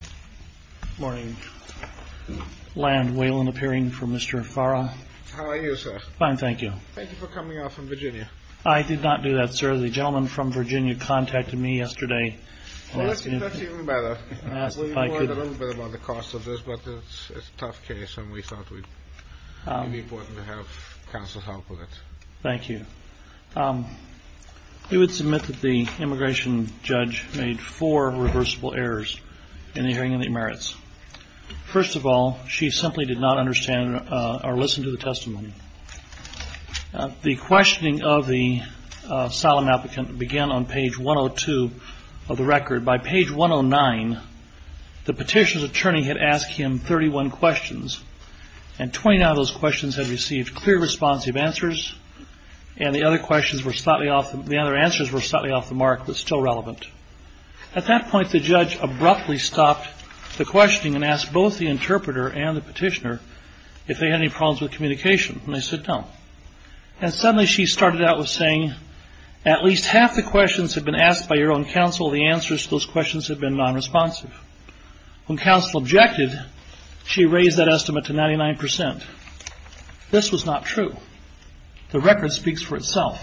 Good morning. Land, Waylon, appearing for Mr. Farah. How are you, sir? Fine, thank you. Thank you for coming out from Virginia. I did not do that, sir. The gentleman from Virginia contacted me yesterday. That's even better. We worried a little bit about the cost of this, but it's a tough case, and we thought it would be important to have counsel's help with it. Thank you. We would submit that the immigration judge made four reversible errors in the hearing of the emerits. First of all, she simply did not understand or listen to the testimony. The questioning of the solemn applicant began on page 102 of the record. By page 109, the petition's attorney had asked him 31 questions, and 29 of those questions had received clear, responsive answers, and the other answers were slightly off the mark but still relevant. At that point, the judge abruptly stopped the questioning and asked both the interpreter and the petitioner if they had any problems with communication, and they said no. And suddenly she started out with saying, at least half the questions had been asked by your own counsel, the answers to those questions had been nonresponsive. When counsel objected, she raised that estimate to 99%. This was not true. The record speaks for itself.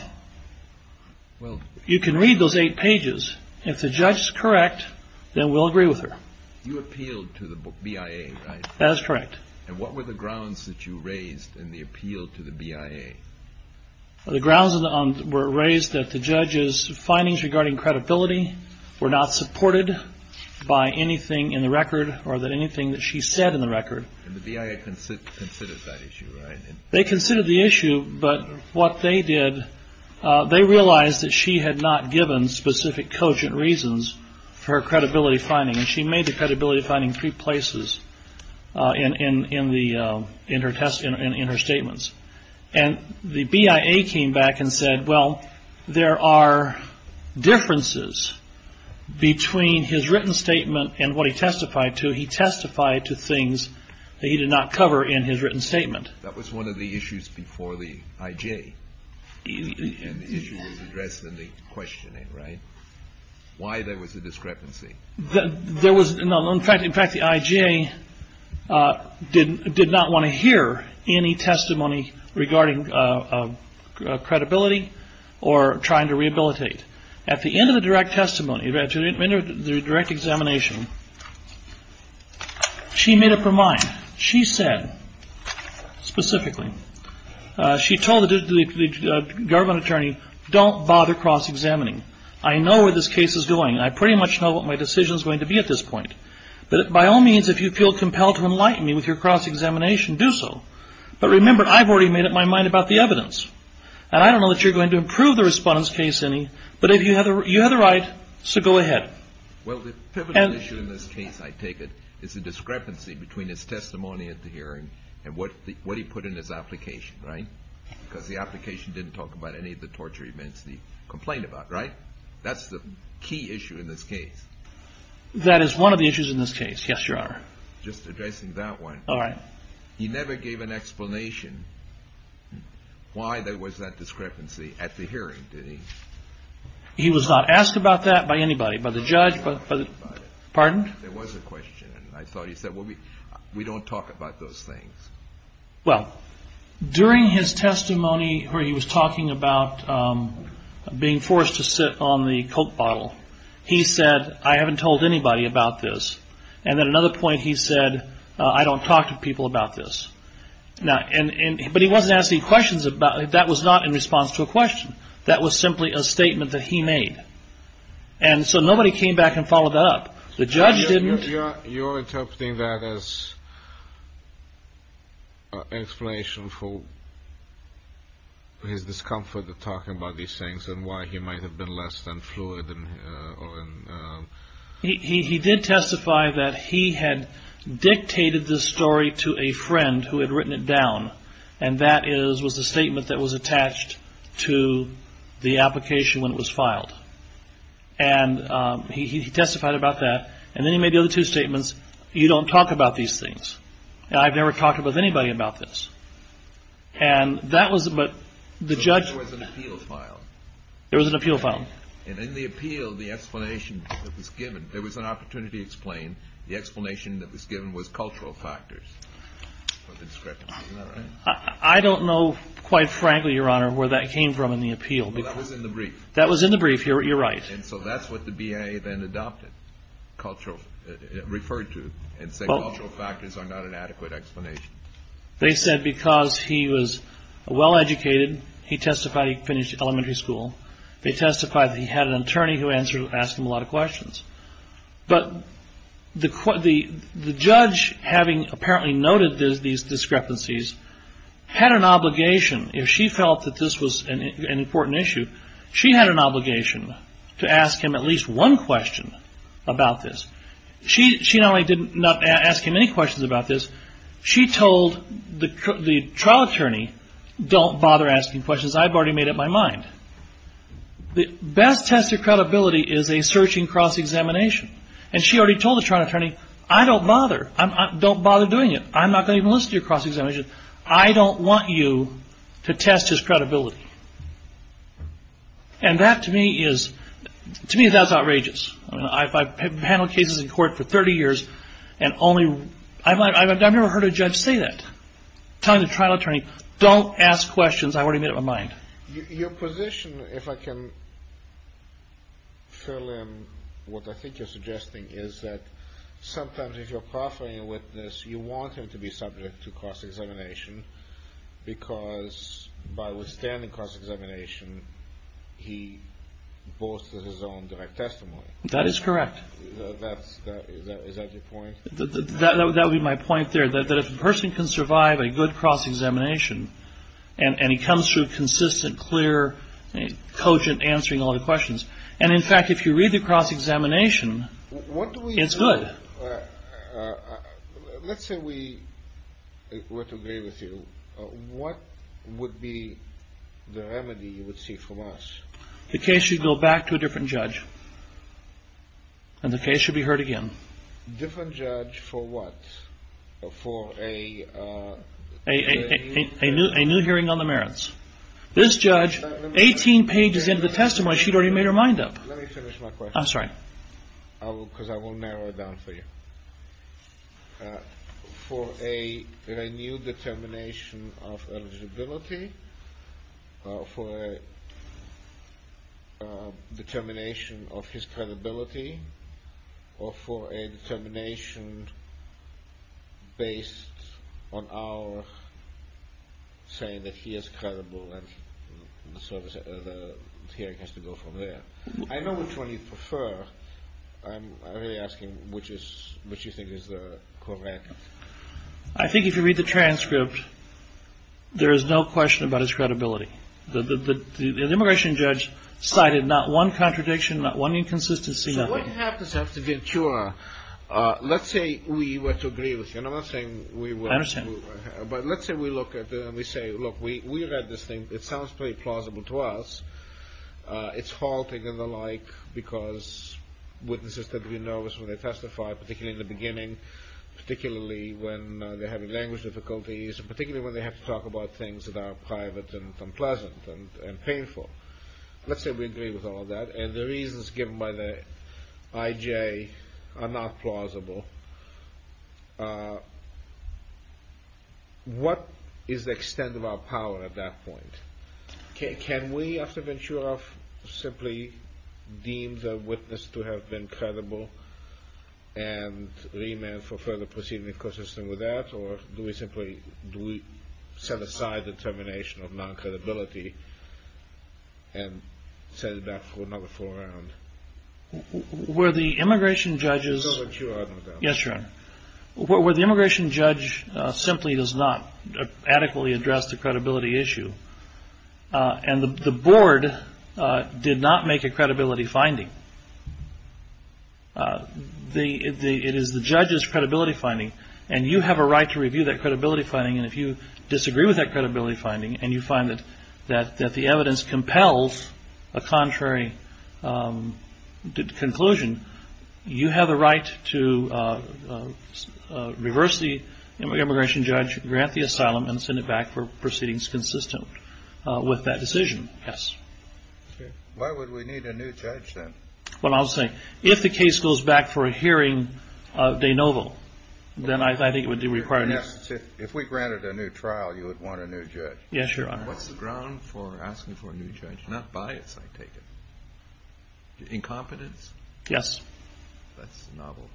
You can read those eight pages. If the judge is correct, then we'll agree with her. You appealed to the BIA, right? That is correct. And what were the grounds that you raised in the appeal to the BIA? The grounds were raised that the judge's findings regarding credibility were not supported by anything in the record or anything that she said in the record. And the BIA considered that issue, right? They considered the issue, but what they did, they realized that she had not given specific cogent reasons for her credibility finding, and she made the credibility finding three places in her statements. And the BIA came back and said, well, there are differences between his written statement and what he testified to. He testified to things that he did not cover in his written statement. That was one of the issues before the IJ. And the issue was addressed in the questioning, right? Why there was a discrepancy. In fact, the IJ did not want to hear any testimony regarding credibility or trying to rehabilitate. At the end of the direct examination, she made up her mind. She said specifically, she told the government attorney, don't bother cross-examining. I know where this case is going. I pretty much know what my decision is going to be at this point. But by all means, if you feel compelled to enlighten me with your cross-examination, do so. But remember, I've already made up my mind about the evidence. And I don't know that you're going to improve the respondent's case any, but you had the right, so go ahead. Well, the pivotal issue in this case, I take it, is the discrepancy between his testimony at the hearing and what he put in his application, right? Because the application didn't talk about any of the torture events he complained about, right? That's the key issue in this case. That is one of the issues in this case, yes, Your Honor. Just addressing that one. All right. He never gave an explanation why there was that discrepancy at the hearing, did he? He was not asked about that by anybody, by the judge, by the, pardon? There was a question, and I thought he said, well, we don't talk about those things. Well, during his testimony where he was talking about being forced to sit on the Coke bottle, he said, I haven't told anybody about this. And at another point he said, I don't talk to people about this. But he wasn't asking questions about it. That was not in response to a question. That was simply a statement that he made. And so nobody came back and followed that up. The judge didn't. You're interpreting that as an explanation for his discomfort with talking about these things and why he might have been less than fluid. He did testify that he had dictated this story to a friend who had written it down, and that was the statement that was attached to the application when it was filed. And he testified about that. And then he made the other two statements, you don't talk about these things, and I've never talked with anybody about this. And that was, but the judge. So there was an appeal filed. There was an appeal filed. And in the appeal, the explanation that was given, there was an opportunity to explain, the explanation that was given was cultural factors for the discrepancy. Isn't that right? I don't know quite frankly, Your Honor, where that came from in the appeal. Well, that was in the brief. That was in the brief. You're right. And so that's what the BIA then adopted, cultural, referred to, and said cultural factors are not an adequate explanation. They said because he was well-educated, he testified he finished elementary school. They testified that he had an attorney who asked him a lot of questions. But the judge, having apparently noted these discrepancies, had an obligation. If she felt that this was an important issue, she had an obligation to ask him at least one question about this. She not only did not ask him any questions about this, she told the trial attorney, don't bother asking questions. I've already made up my mind. The best test of credibility is a searching cross-examination. And she already told the trial attorney, I don't bother. Don't bother doing it. I'm not going to even listen to your cross-examination. I don't want you to test his credibility. And that, to me, is outrageous. I've handled cases in court for 30 years, and I've never heard a judge say that, telling the trial attorney, don't ask questions. I've already made up my mind. Your position, if I can fill in what I think you're suggesting, is that sometimes if you're proffering a witness, you want him to be subject to cross-examination because, by withstanding cross-examination, he boasts of his own direct testimony. That is correct. Is that your point? That would be my point there, that if a person can survive a good cross-examination and he comes through consistent, clear, cogent, answering all the questions, and, in fact, if you read the cross-examination, it's good. Let's say we were to agree with you. What would be the remedy you would see from us? The case should go back to a different judge, and the case should be heard again. Different judge for what? For a new hearing on the merits. This judge, 18 pages into the testimony, she'd already made her mind up. Let me finish my question. I'm sorry. Because I will narrow it down for you. For a renewed determination of eligibility, for a determination of his credibility, or for a determination based on our saying that he is credible and the hearing has to go from there. I know which one you prefer. I'm really asking which you think is correct. I think if you read the transcript, there is no question about his credibility. The immigration judge cited not one contradiction, not one inconsistency, nothing. So what happens after Ventura? Let's say we were to agree with you. And I'm not saying we were. I understand. But let's say we look at it and we say, look, we read this thing. It sounds pretty plausible to us. It's halting and the like because witnesses tend to be nervous when they testify, particularly in the beginning, particularly when they're having language difficulties, particularly when they have to talk about things that are private and unpleasant and painful. Let's say we agree with all of that. And the reasons given by the IJ are not plausible. What is the extent of our power at that point? Can we, after Ventura, simply deem the witness to have been credible and remand for further proceedings consistent with that? Or do we simply set aside the termination of non-credibility and set it back for another four rounds? Where the immigration judge is. Yes, Your Honor. The immigration judge simply does not adequately address the credibility issue. And the board did not make a credibility finding. It is the judge's credibility finding. And you have a right to review that credibility finding. And if you disagree with that credibility finding and you find that the evidence compels a contrary conclusion, you have a right to reverse the immigration judge, grant the asylum, and send it back for proceedings consistent with that decision. Yes. Why would we need a new judge then? Well, I'll say, if the case goes back for a hearing de novo, then I think it would require a new judge. If we granted a new trial, you would want a new judge. Yes, Your Honor. What's the ground for asking for a new judge? Not bias, I take it. Incompetence? Yes. That's novel.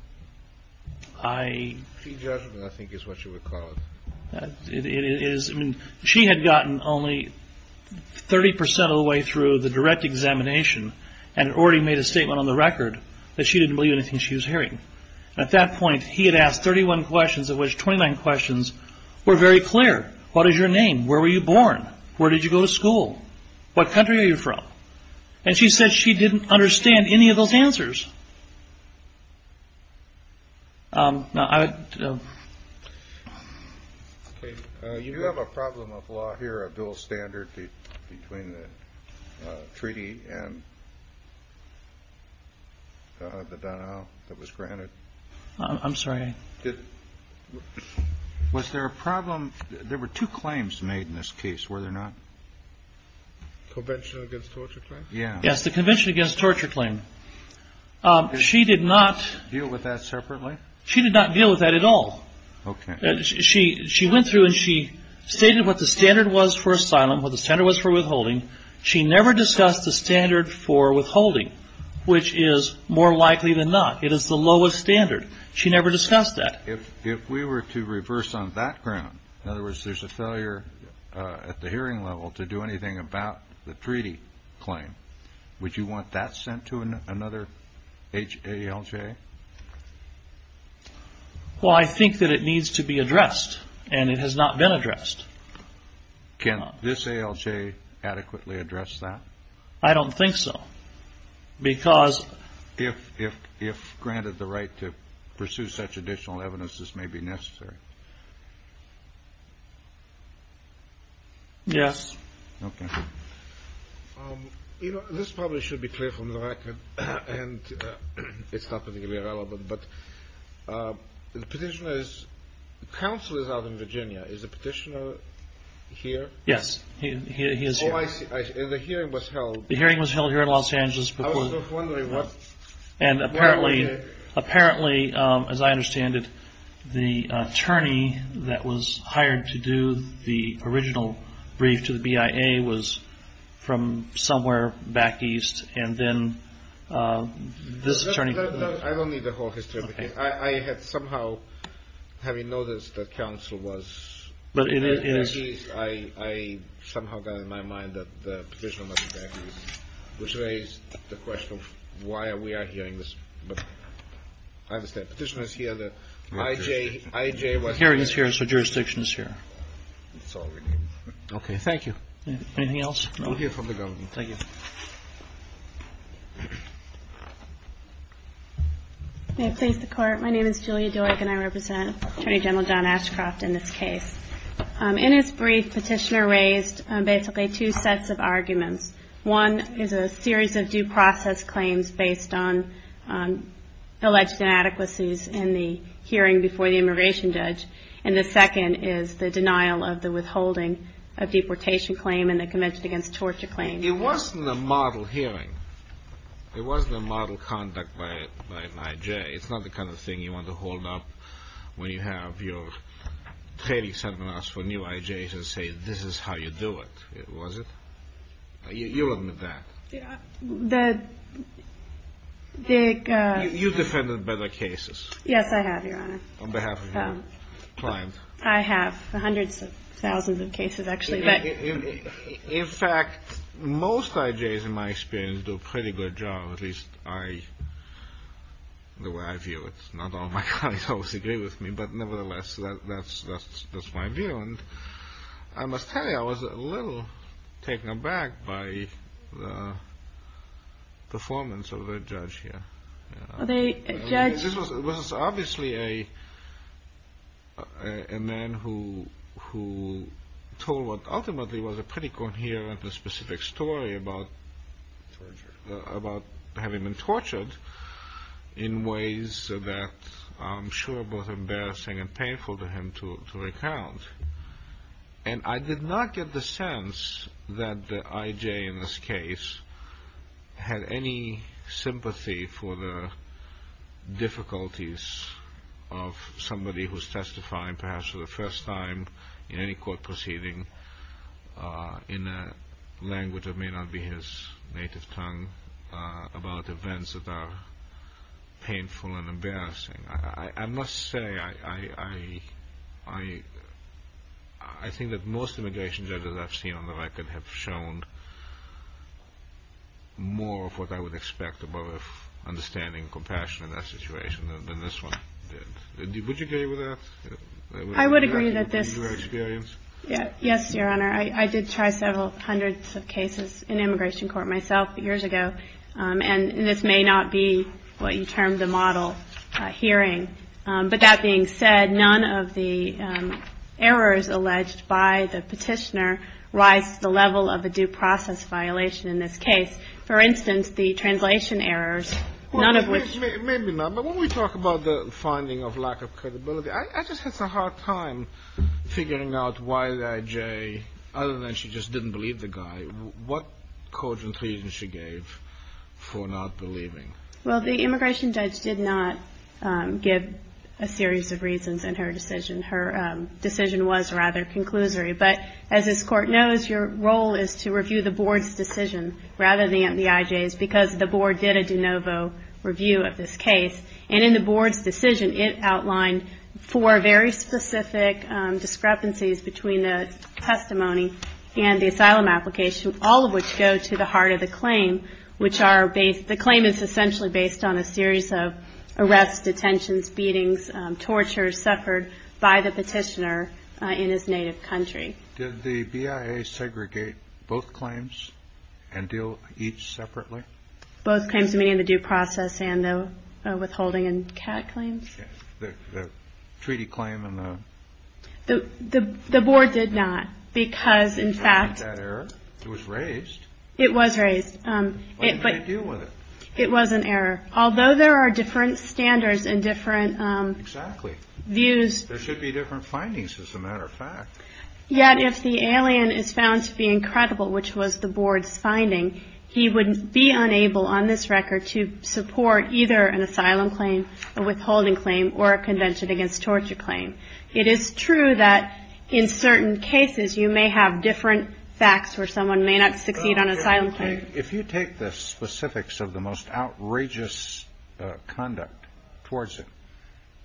Free judgment, I think, is what you would call it. It is. I mean, she had gotten only 30 percent of the way through the direct examination and already made a statement on the record that she didn't believe anything she was hearing. At that point, he had asked 31 questions of which 29 questions were very clear. What is your name? Where were you born? Where did you go to school? What country are you from? And she said she didn't understand any of those answers. Now, I would. Do you have a problem of law here, a dual standard between the treaty and the denial that was granted? I'm sorry. Was there a problem? There were two claims made in this case, were there not? Convention against torture claim? Yes, the convention against torture claim. Did she deal with that separately? She did not deal with that at all. Okay. She went through and she stated what the standard was for asylum, what the standard was for withholding. She never discussed the standard for withholding, which is more likely than not. It is the lowest standard. She never discussed that. If we were to reverse on that ground, in other words, there's a failure at the hearing level to do anything about the treaty claim, would you want that sent to another HALJ? Well, I think that it needs to be addressed, and it has not been addressed. Can this ALJ adequately address that? I don't think so. If granted the right to pursue such additional evidence, this may be necessary. Yes. Okay. You know, this probably should be clear from the record, and it's not particularly relevant, but the petitioner's counsel is out in Virginia. Is the petitioner here? Yes, he is here. Oh, I see. The hearing was held. The hearing was held here in Los Angeles. I was wondering what. And apparently, as I understand it, the attorney that was hired to do the original brief to the BIA was from somewhere back east, and then this attorney came in. I don't need the whole history. Okay. I had somehow, having noticed that counsel was back east, I somehow got it in my mind that the petitioner was back east, which raised the question of why we are hearing this. But I understand. Petitioner is here. The IJ was back east. The hearing is here, so jurisdiction is here. That's all we need. Okay. Thank you. Anything else? We'll hear from the government. Thank you. May it please the Court. My name is Julia Doig, and I represent Attorney General John Ashcroft in this case. In his brief, petitioner raised basically two sets of arguments. One is a series of due process claims based on alleged inadequacies in the hearing before the immigration judge, and the second is the denial of the withholding of deportation claim and the Convention Against Torture claim. It wasn't a model hearing. It's not the kind of thing you want to hold up when you have your training seminars for new IJs and say, this is how you do it, was it? You'll admit that. You've defended better cases. Yes, I have, Your Honor. On behalf of your client. I have. Hundreds of thousands of cases, actually. In fact, most IJs, in my experience, do a pretty good job, at least the way I view it. Not all my clients always agree with me, but nevertheless, that's my view. I must tell you, I was a little taken aback by the performance of the judge here. It was obviously a man who told what ultimately was a pretty coherent and specific story about having been tortured in ways that I'm sure were both embarrassing and painful to him to recount. And I did not get the sense that the IJ in this case had any sympathy for the difficulties of somebody who's testifying, perhaps for the first time in any court proceeding, in a language that may not be his native tongue, about events that are painful and embarrassing. I must say, I think that most immigration judges I've seen on the record have shown more of what I would expect above understanding and compassion in that situation than this one did. Would you agree with that? I would agree that this. In your experience? Yes, Your Honor. I did try several hundreds of cases in immigration court myself years ago, and this may not be what you termed a model hearing, but that being said, none of the errors alleged by the petitioner rise to the level of a due process violation in this case. For instance, the translation errors, none of which. Maybe not, but when we talk about the finding of lack of credibility, I just had some hard time figuring out why the IJ, other than she just didn't believe the guy, what cause and condition she gave for not believing? Well, the immigration judge did not give a series of reasons in her decision. Her decision was rather conclusory. But as this Court knows, your role is to review the Board's decision rather than the IJ's, because the Board did a de novo review of this case. And in the Board's decision, it outlined four very specific discrepancies between the testimony and the asylum application, all of which go to the heart of the claim, which are based, the claim is essentially based on a series of arrests, detentions, beatings, torture, suffered by the petitioner in his native country. Did the BIA segregate both claims and deal each separately? Both claims, meaning the due process and the withholding and CAD claims. The treaty claim and the? The Board did not, because in fact. It was raised. It was raised. Why did they deal with it? It was an error. Although there are different standards and different views. Exactly. There should be different findings, as a matter of fact. Yet if the alien is found to be incredible, which was the Board's finding, he would be unable on this record to support either an asylum claim, a withholding claim, or a convention against torture claim. It is true that in certain cases you may have different facts where someone may not succeed on an asylum claim. If you take the specifics of the most outrageous conduct towards it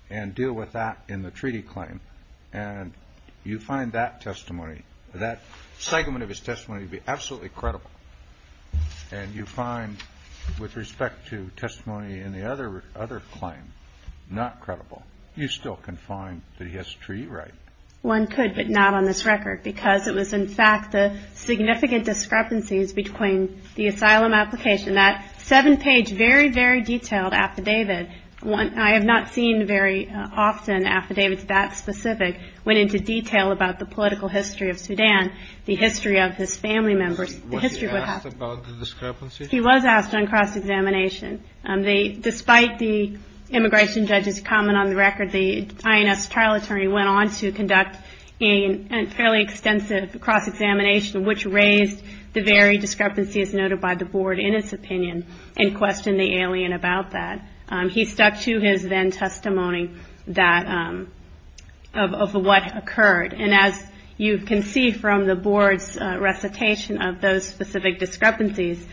and deal with that in the treaty claim, and you find that testimony, that segment of his testimony to be absolutely credible, and you find with respect to testimony in the other claim not credible, you still can find that he has a treaty right. One could, but not on this record, because it was, in fact, the significant discrepancies between the asylum application, that seven-page, very, very detailed affidavit. I have not seen very often affidavits that specific went into detail about the political history of Sudan, the history of his family members, the history of what happened. Was he asked about the discrepancy? He was asked on cross-examination. Despite the immigration judge's comment on the record, the INS trial attorney went on to conduct a fairly extensive cross-examination, which raised the very discrepancies noted by the Board in its opinion, and questioned the alien about that. He stuck to his then testimony of what occurred. And as you can see from the Board's recitation of those specific discrepancies,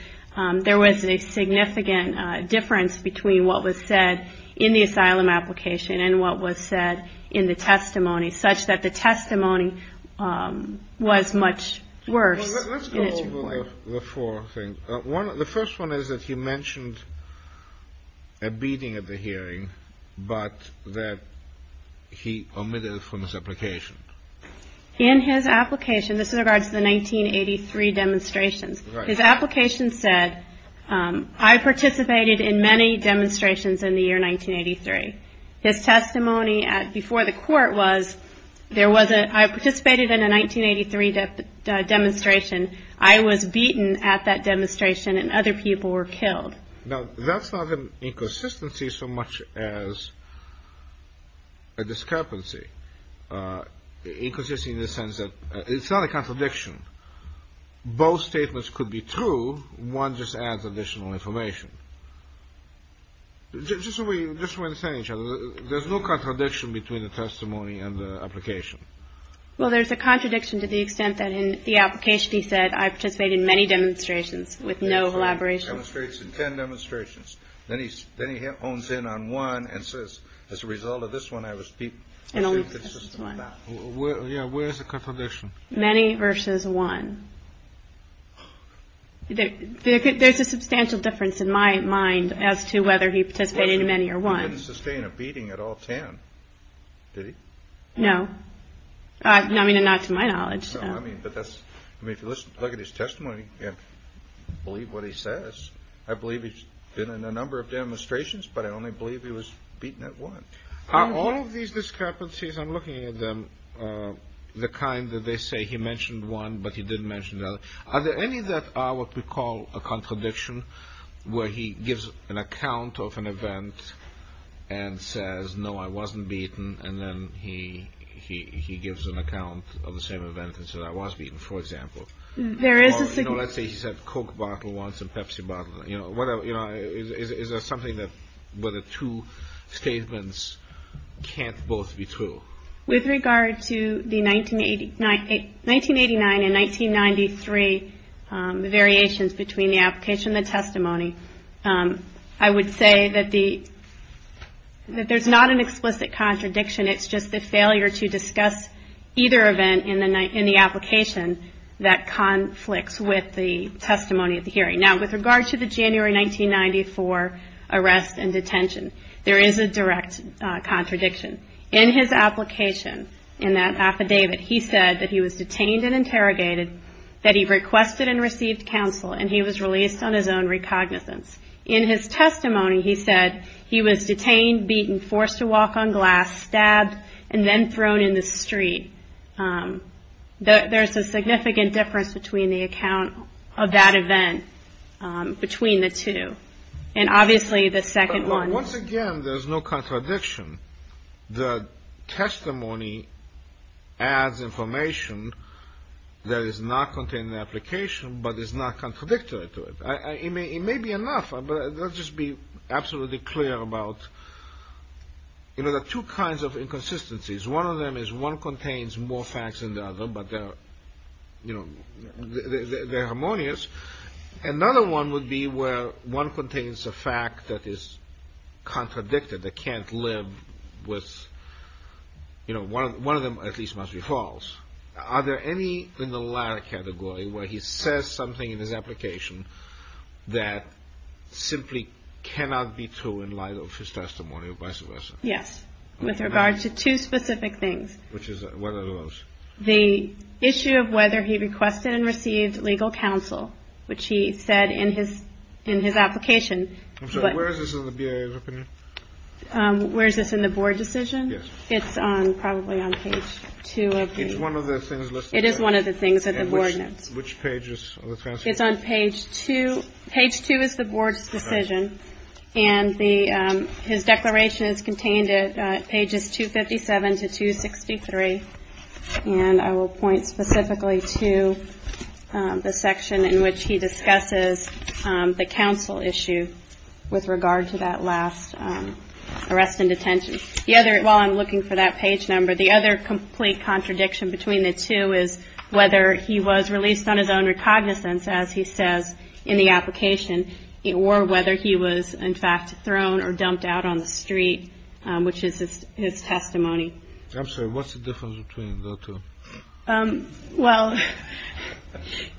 there was a significant difference between what was said in the asylum application and what was said in the testimony, such that the testimony was much worse. Well, let's go over the four things. The first one is that he mentioned a beating at the hearing, but that he omitted it from his application. In his application, this is in regards to the 1983 demonstrations, his application said, I participated in many demonstrations in the year 1983. His testimony before the court was, there was a, I participated in a 1983 demonstration. I was beaten at that demonstration, and other people were killed. Now, that's not an inconsistency so much as a discrepancy. Inconsistency in the sense that it's not a contradiction. Both statements could be true. One just adds additional information. Just so we understand each other, there's no contradiction between the testimony and the application. Well, there's a contradiction to the extent that in the application he said, I participated in many demonstrations with no elaboration. Demonstrates in ten demonstrations. Then he hones in on one and says, as a result of this one, I was beaten. Yeah, where's the contradiction? Many versus one. There's a substantial difference in my mind as to whether he participated in many or one. He didn't sustain a beating at all ten, did he? No. I mean, not to my knowledge. I mean, but that's, I mean, if you look at his testimony and believe what he says, I believe he's been in a number of demonstrations, but I only believe he was beaten at one. Are all of these discrepancies, I'm looking at them, the kind that they say he mentioned one, but he didn't mention the other. Are there any that are what we call a contradiction where he gives an account of an event and says, no, I wasn't beaten, and then he gives an account of the same event and says, I was beaten, for example. Or, you know, let's say he said Coke bottle once and Pepsi bottle. You know, is there something where the two statements can't both be true? With regard to the 1989 and 1993 variations between the application and the testimony, I would say that there's not an explicit contradiction. It's just the failure to discuss either event in the application that conflicts with the testimony of the hearing. Now, with regard to the January 1994 arrest and detention, there is a direct contradiction. In his application, in that affidavit, he said that he was detained and interrogated, that he requested and received counsel, and he was released on his own recognizance. In his testimony, he said he was detained, beaten, forced to walk on glass, stabbed, and then thrown in the street. There's a significant difference between the account of that event between the two. And obviously the second one. So once again, there's no contradiction. The testimony adds information that is not contained in the application, but is not contradictory to it. It may be enough, but let's just be absolutely clear about, you know, there are two kinds of inconsistencies. One of them is one contains more facts than the other, but they're, you know, they're harmonious. Another one would be where one contains a fact that is contradicted, that can't live with, you know, one of them at least must be false. Are there any in the latter category where he says something in his application that simply cannot be true in light of his testimony or vice versa? Yes. With regard to two specific things. Which is, what are those? The issue of whether he requested and received legal counsel, which he said in his in his application. But where is this? Where is this in the board decision? It's probably on page two. It's one of those things. It is one of the things that the board knows which pages it's on. Page two. Page two is the board's decision. And his declaration is contained at pages 257 to 263. And I will point specifically to the section in which he discusses the counsel issue with regard to that last arrest and detention. The other, while I'm looking for that page number, the other complete contradiction between the two is whether he was released on his own recognizance, as he says in the application, or whether he was, in fact, thrown or dumped out on the street, which is his testimony. I'm sorry. What's the difference between the two? Well,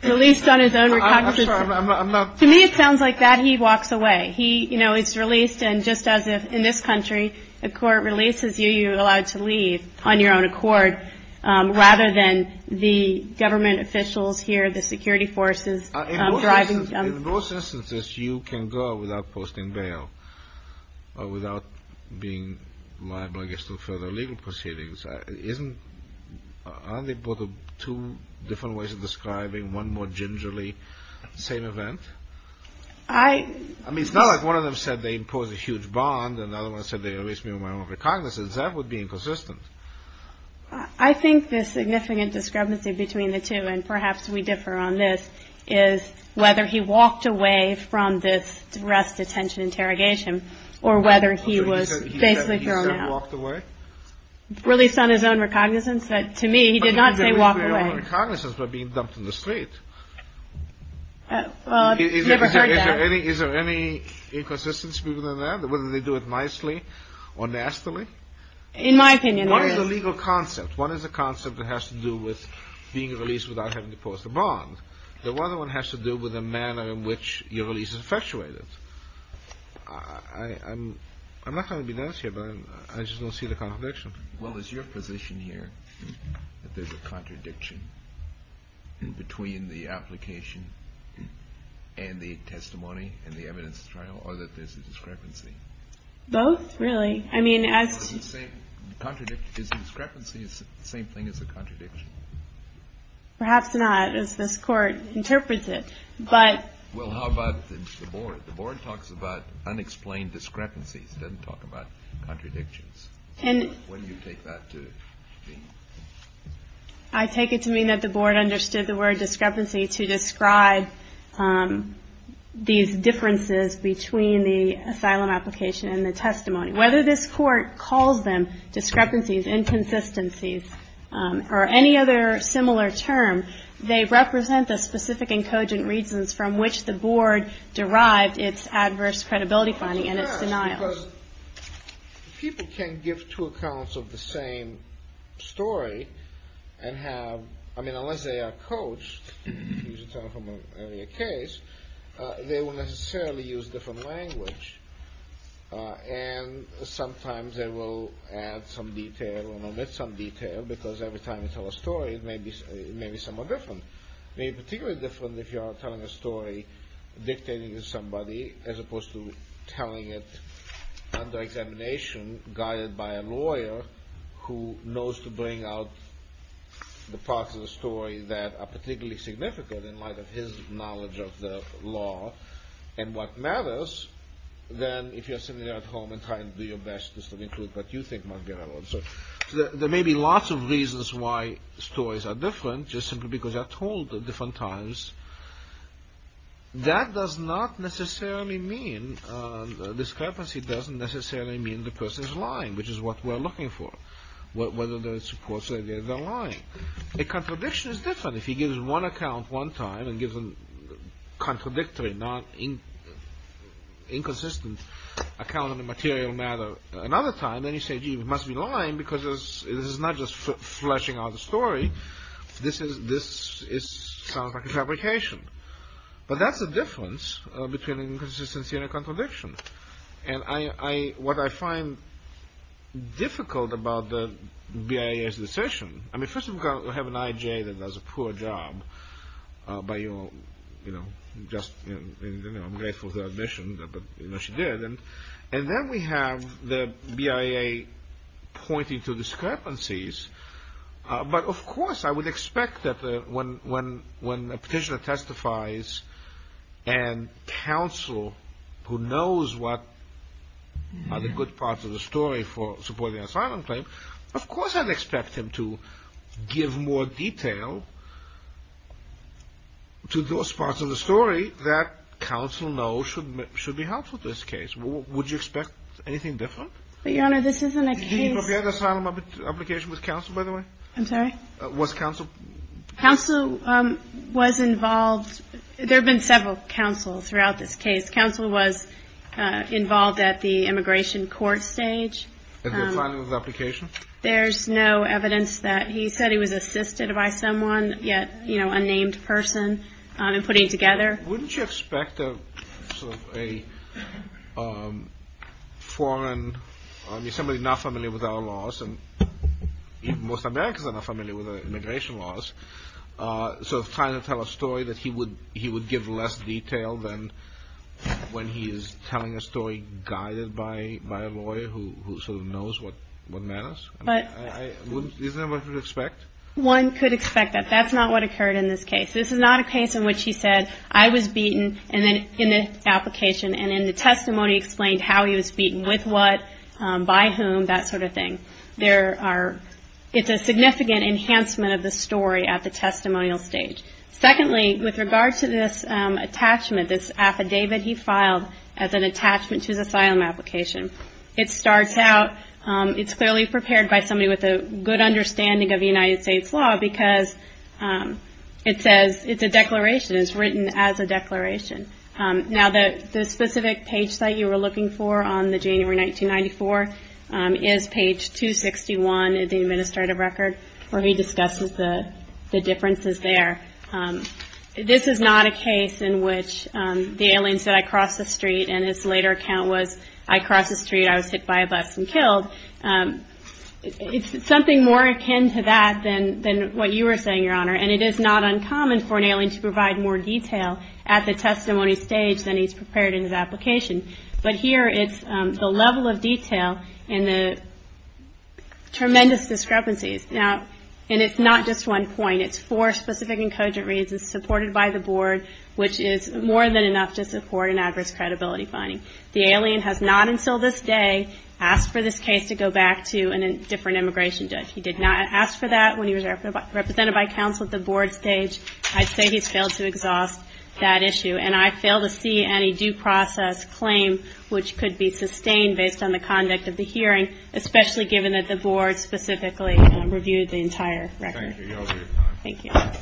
released on his own recognition. I'm sorry. I'm not. To me, it sounds like that he walks away. He, you know, is released. And just as if in this country, a court releases you, you're allowed to leave on your own accord, rather than the government officials here, the security forces driving. In most instances, you can go without posting bail or without being liable, I guess, to further legal proceedings. Isn't, aren't they both two different ways of describing one more gingerly same event? I. I mean, it's not like one of them said they imposed a huge bond. Another one said they released me on my own recognizance. That would be inconsistent. I think the significant discrepancy between the two, and perhaps we differ on this, is whether he walked away from this arrest, detention, interrogation, or whether he was basically thrown out. He said he walked away? Released on his own recognizance. But to me, he did not say walk away. He released on his own recognizance by being dumped on the street. Well, I've never heard that. Is there any, is there any inconsistency within that, whether they do it nicely or nastily? In my opinion, there is. One is a legal concept. One is a concept that has to do with being released without having to post a bond. The other one has to do with the manner in which your release is effectuated. I'm not trying to be nice here, but I just don't see the contradiction. Well, is your position here that there's a contradiction between the application and the testimony and the evidence trial, or that there's a discrepancy? Both, really. Is the discrepancy the same thing as the contradiction? Perhaps not, as this Court interprets it. Well, how about the Board? The Board talks about unexplained discrepancies. It doesn't talk about contradictions. When do you take that to mean? I take it to mean that the Board understood the word discrepancy to describe these differences between the asylum application and the testimony. Whether this Court calls them discrepancies, inconsistencies, or any other similar term, they represent the specific and cogent reasons from which the Board derived its adverse credibility finding and its denial. People can't give two accounts of the same story and have, I mean, unless they are coached, they will necessarily use different language. And sometimes they will add some detail and omit some detail, because every time you tell a story, it may be somewhat different. It may be particularly different if you are telling a story dictating to somebody, as opposed to telling it under examination, guided by a lawyer who knows to bring out the parts of the story that are particularly significant in light of his knowledge of the law and what matters, than if you are sitting there at home and trying to do your best to include what you think might be relevant. There may be lots of reasons why stories are different, just simply because they are told at different times. That does not necessarily mean, discrepancy doesn't necessarily mean the person is lying, which is what we are looking for, whether there is support, whether they are lying. A contradiction is different. If he gives one account one time and gives a contradictory, inconsistent account on a material matter another time, then you say, gee, he must be lying, because this is not just fleshing out a story. This sounds like a fabrication. But that's the difference between an inconsistency and a contradiction. What I find difficult about the BIA's decision, I mean, first of all, we have an IJ that does a poor job. I'm grateful for her admission, but she did. And then we have the BIA pointing to discrepancies. But, of course, I would expect that when a petitioner testifies and counsel, who knows what are the good parts of the story for supporting an asylum claim, of course I would expect him to give more detail to those parts of the story that counsel knows should be helpful in this case. Would you expect anything different? But, Your Honor, this isn't a case. Did he prepare the asylum application with counsel, by the way? I'm sorry? Was counsel? Counsel was involved. There have been several counsels throughout this case. Counsel was involved at the immigration court stage. And the filing of the application? There's no evidence that. He said he was assisted by someone, yet, you know, a named person, in putting it together. Wouldn't you expect a foreign, somebody not familiar with our laws, and most Americans are not familiar with immigration laws, sort of trying to tell a story that he would give less detail than when he is telling a story guided by a lawyer who sort of knows what matters? Isn't that what you would expect? One could expect that. That's not what occurred in this case. This is not a case in which he said, I was beaten in the application, and in the testimony explained how he was beaten, with what, by whom, that sort of thing. It's a significant enhancement of the story at the testimonial stage. Secondly, with regard to this attachment, this affidavit he filed as an attachment to his asylum application, it starts out, it's clearly prepared by somebody with a good understanding of United States law, because it says it's a declaration, it's written as a declaration. Now, the specific page site you were looking for on the January 1994 is page 261 of the administrative record, where he discusses the differences there. This is not a case in which the alien said, I crossed the street, and his later account was, I crossed the street, I was hit by a bus and killed. It's something more akin to that than what you were saying, Your Honor, and it is not uncommon for an alien to provide more detail at the testimony stage than he's prepared in his application. But here it's the level of detail and the tremendous discrepancies. Now, and it's not just one point. It's four specific and cogent reasons supported by the board, which is more than enough to support an adverse credibility finding. The alien has not until this day asked for this case to go back to a different immigration judge. He did not ask for that when he was represented by counsel at the board stage. I'd say he's failed to exhaust that issue, and I fail to see any due process claim which could be sustained based on the conduct of the hearing, especially given that the board specifically reviewed the entire record. Thank you. Thank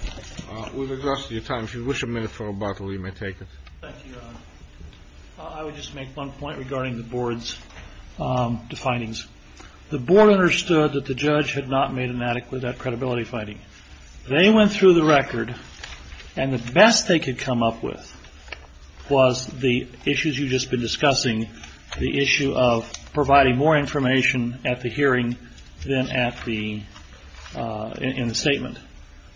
you. We've exhausted your time. If you wish a minute for rebuttal, you may take it. Thank you, Your Honor. I would just make one point regarding the board's findings. The board understood that the judge had not made an adequate credibility finding. They went through the record, and the best they could come up with was the issues you've just been discussing, the issue of providing more information at the hearing than in the statement.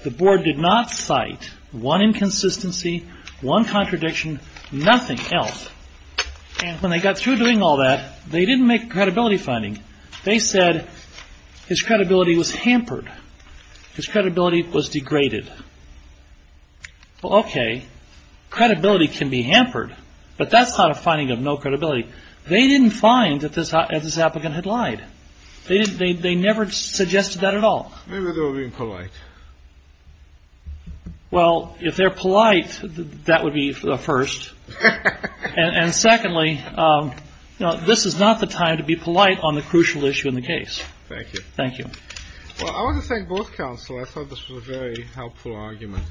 The board did not cite one inconsistency, one contradiction, nothing else. And when they got through doing all that, they didn't make a credibility finding. They said his credibility was hampered. His credibility was degraded. Well, okay, credibility can be hampered, but that's not a finding of no credibility. They didn't find that this applicant had lied. They never suggested that at all. Maybe they were being polite. Well, if they're polite, that would be first. And secondly, this is not the time to be polite on the crucial issue in the case. Thank you. Thank you. Well, I want to thank both counsel. I thought this was a very helpful argument.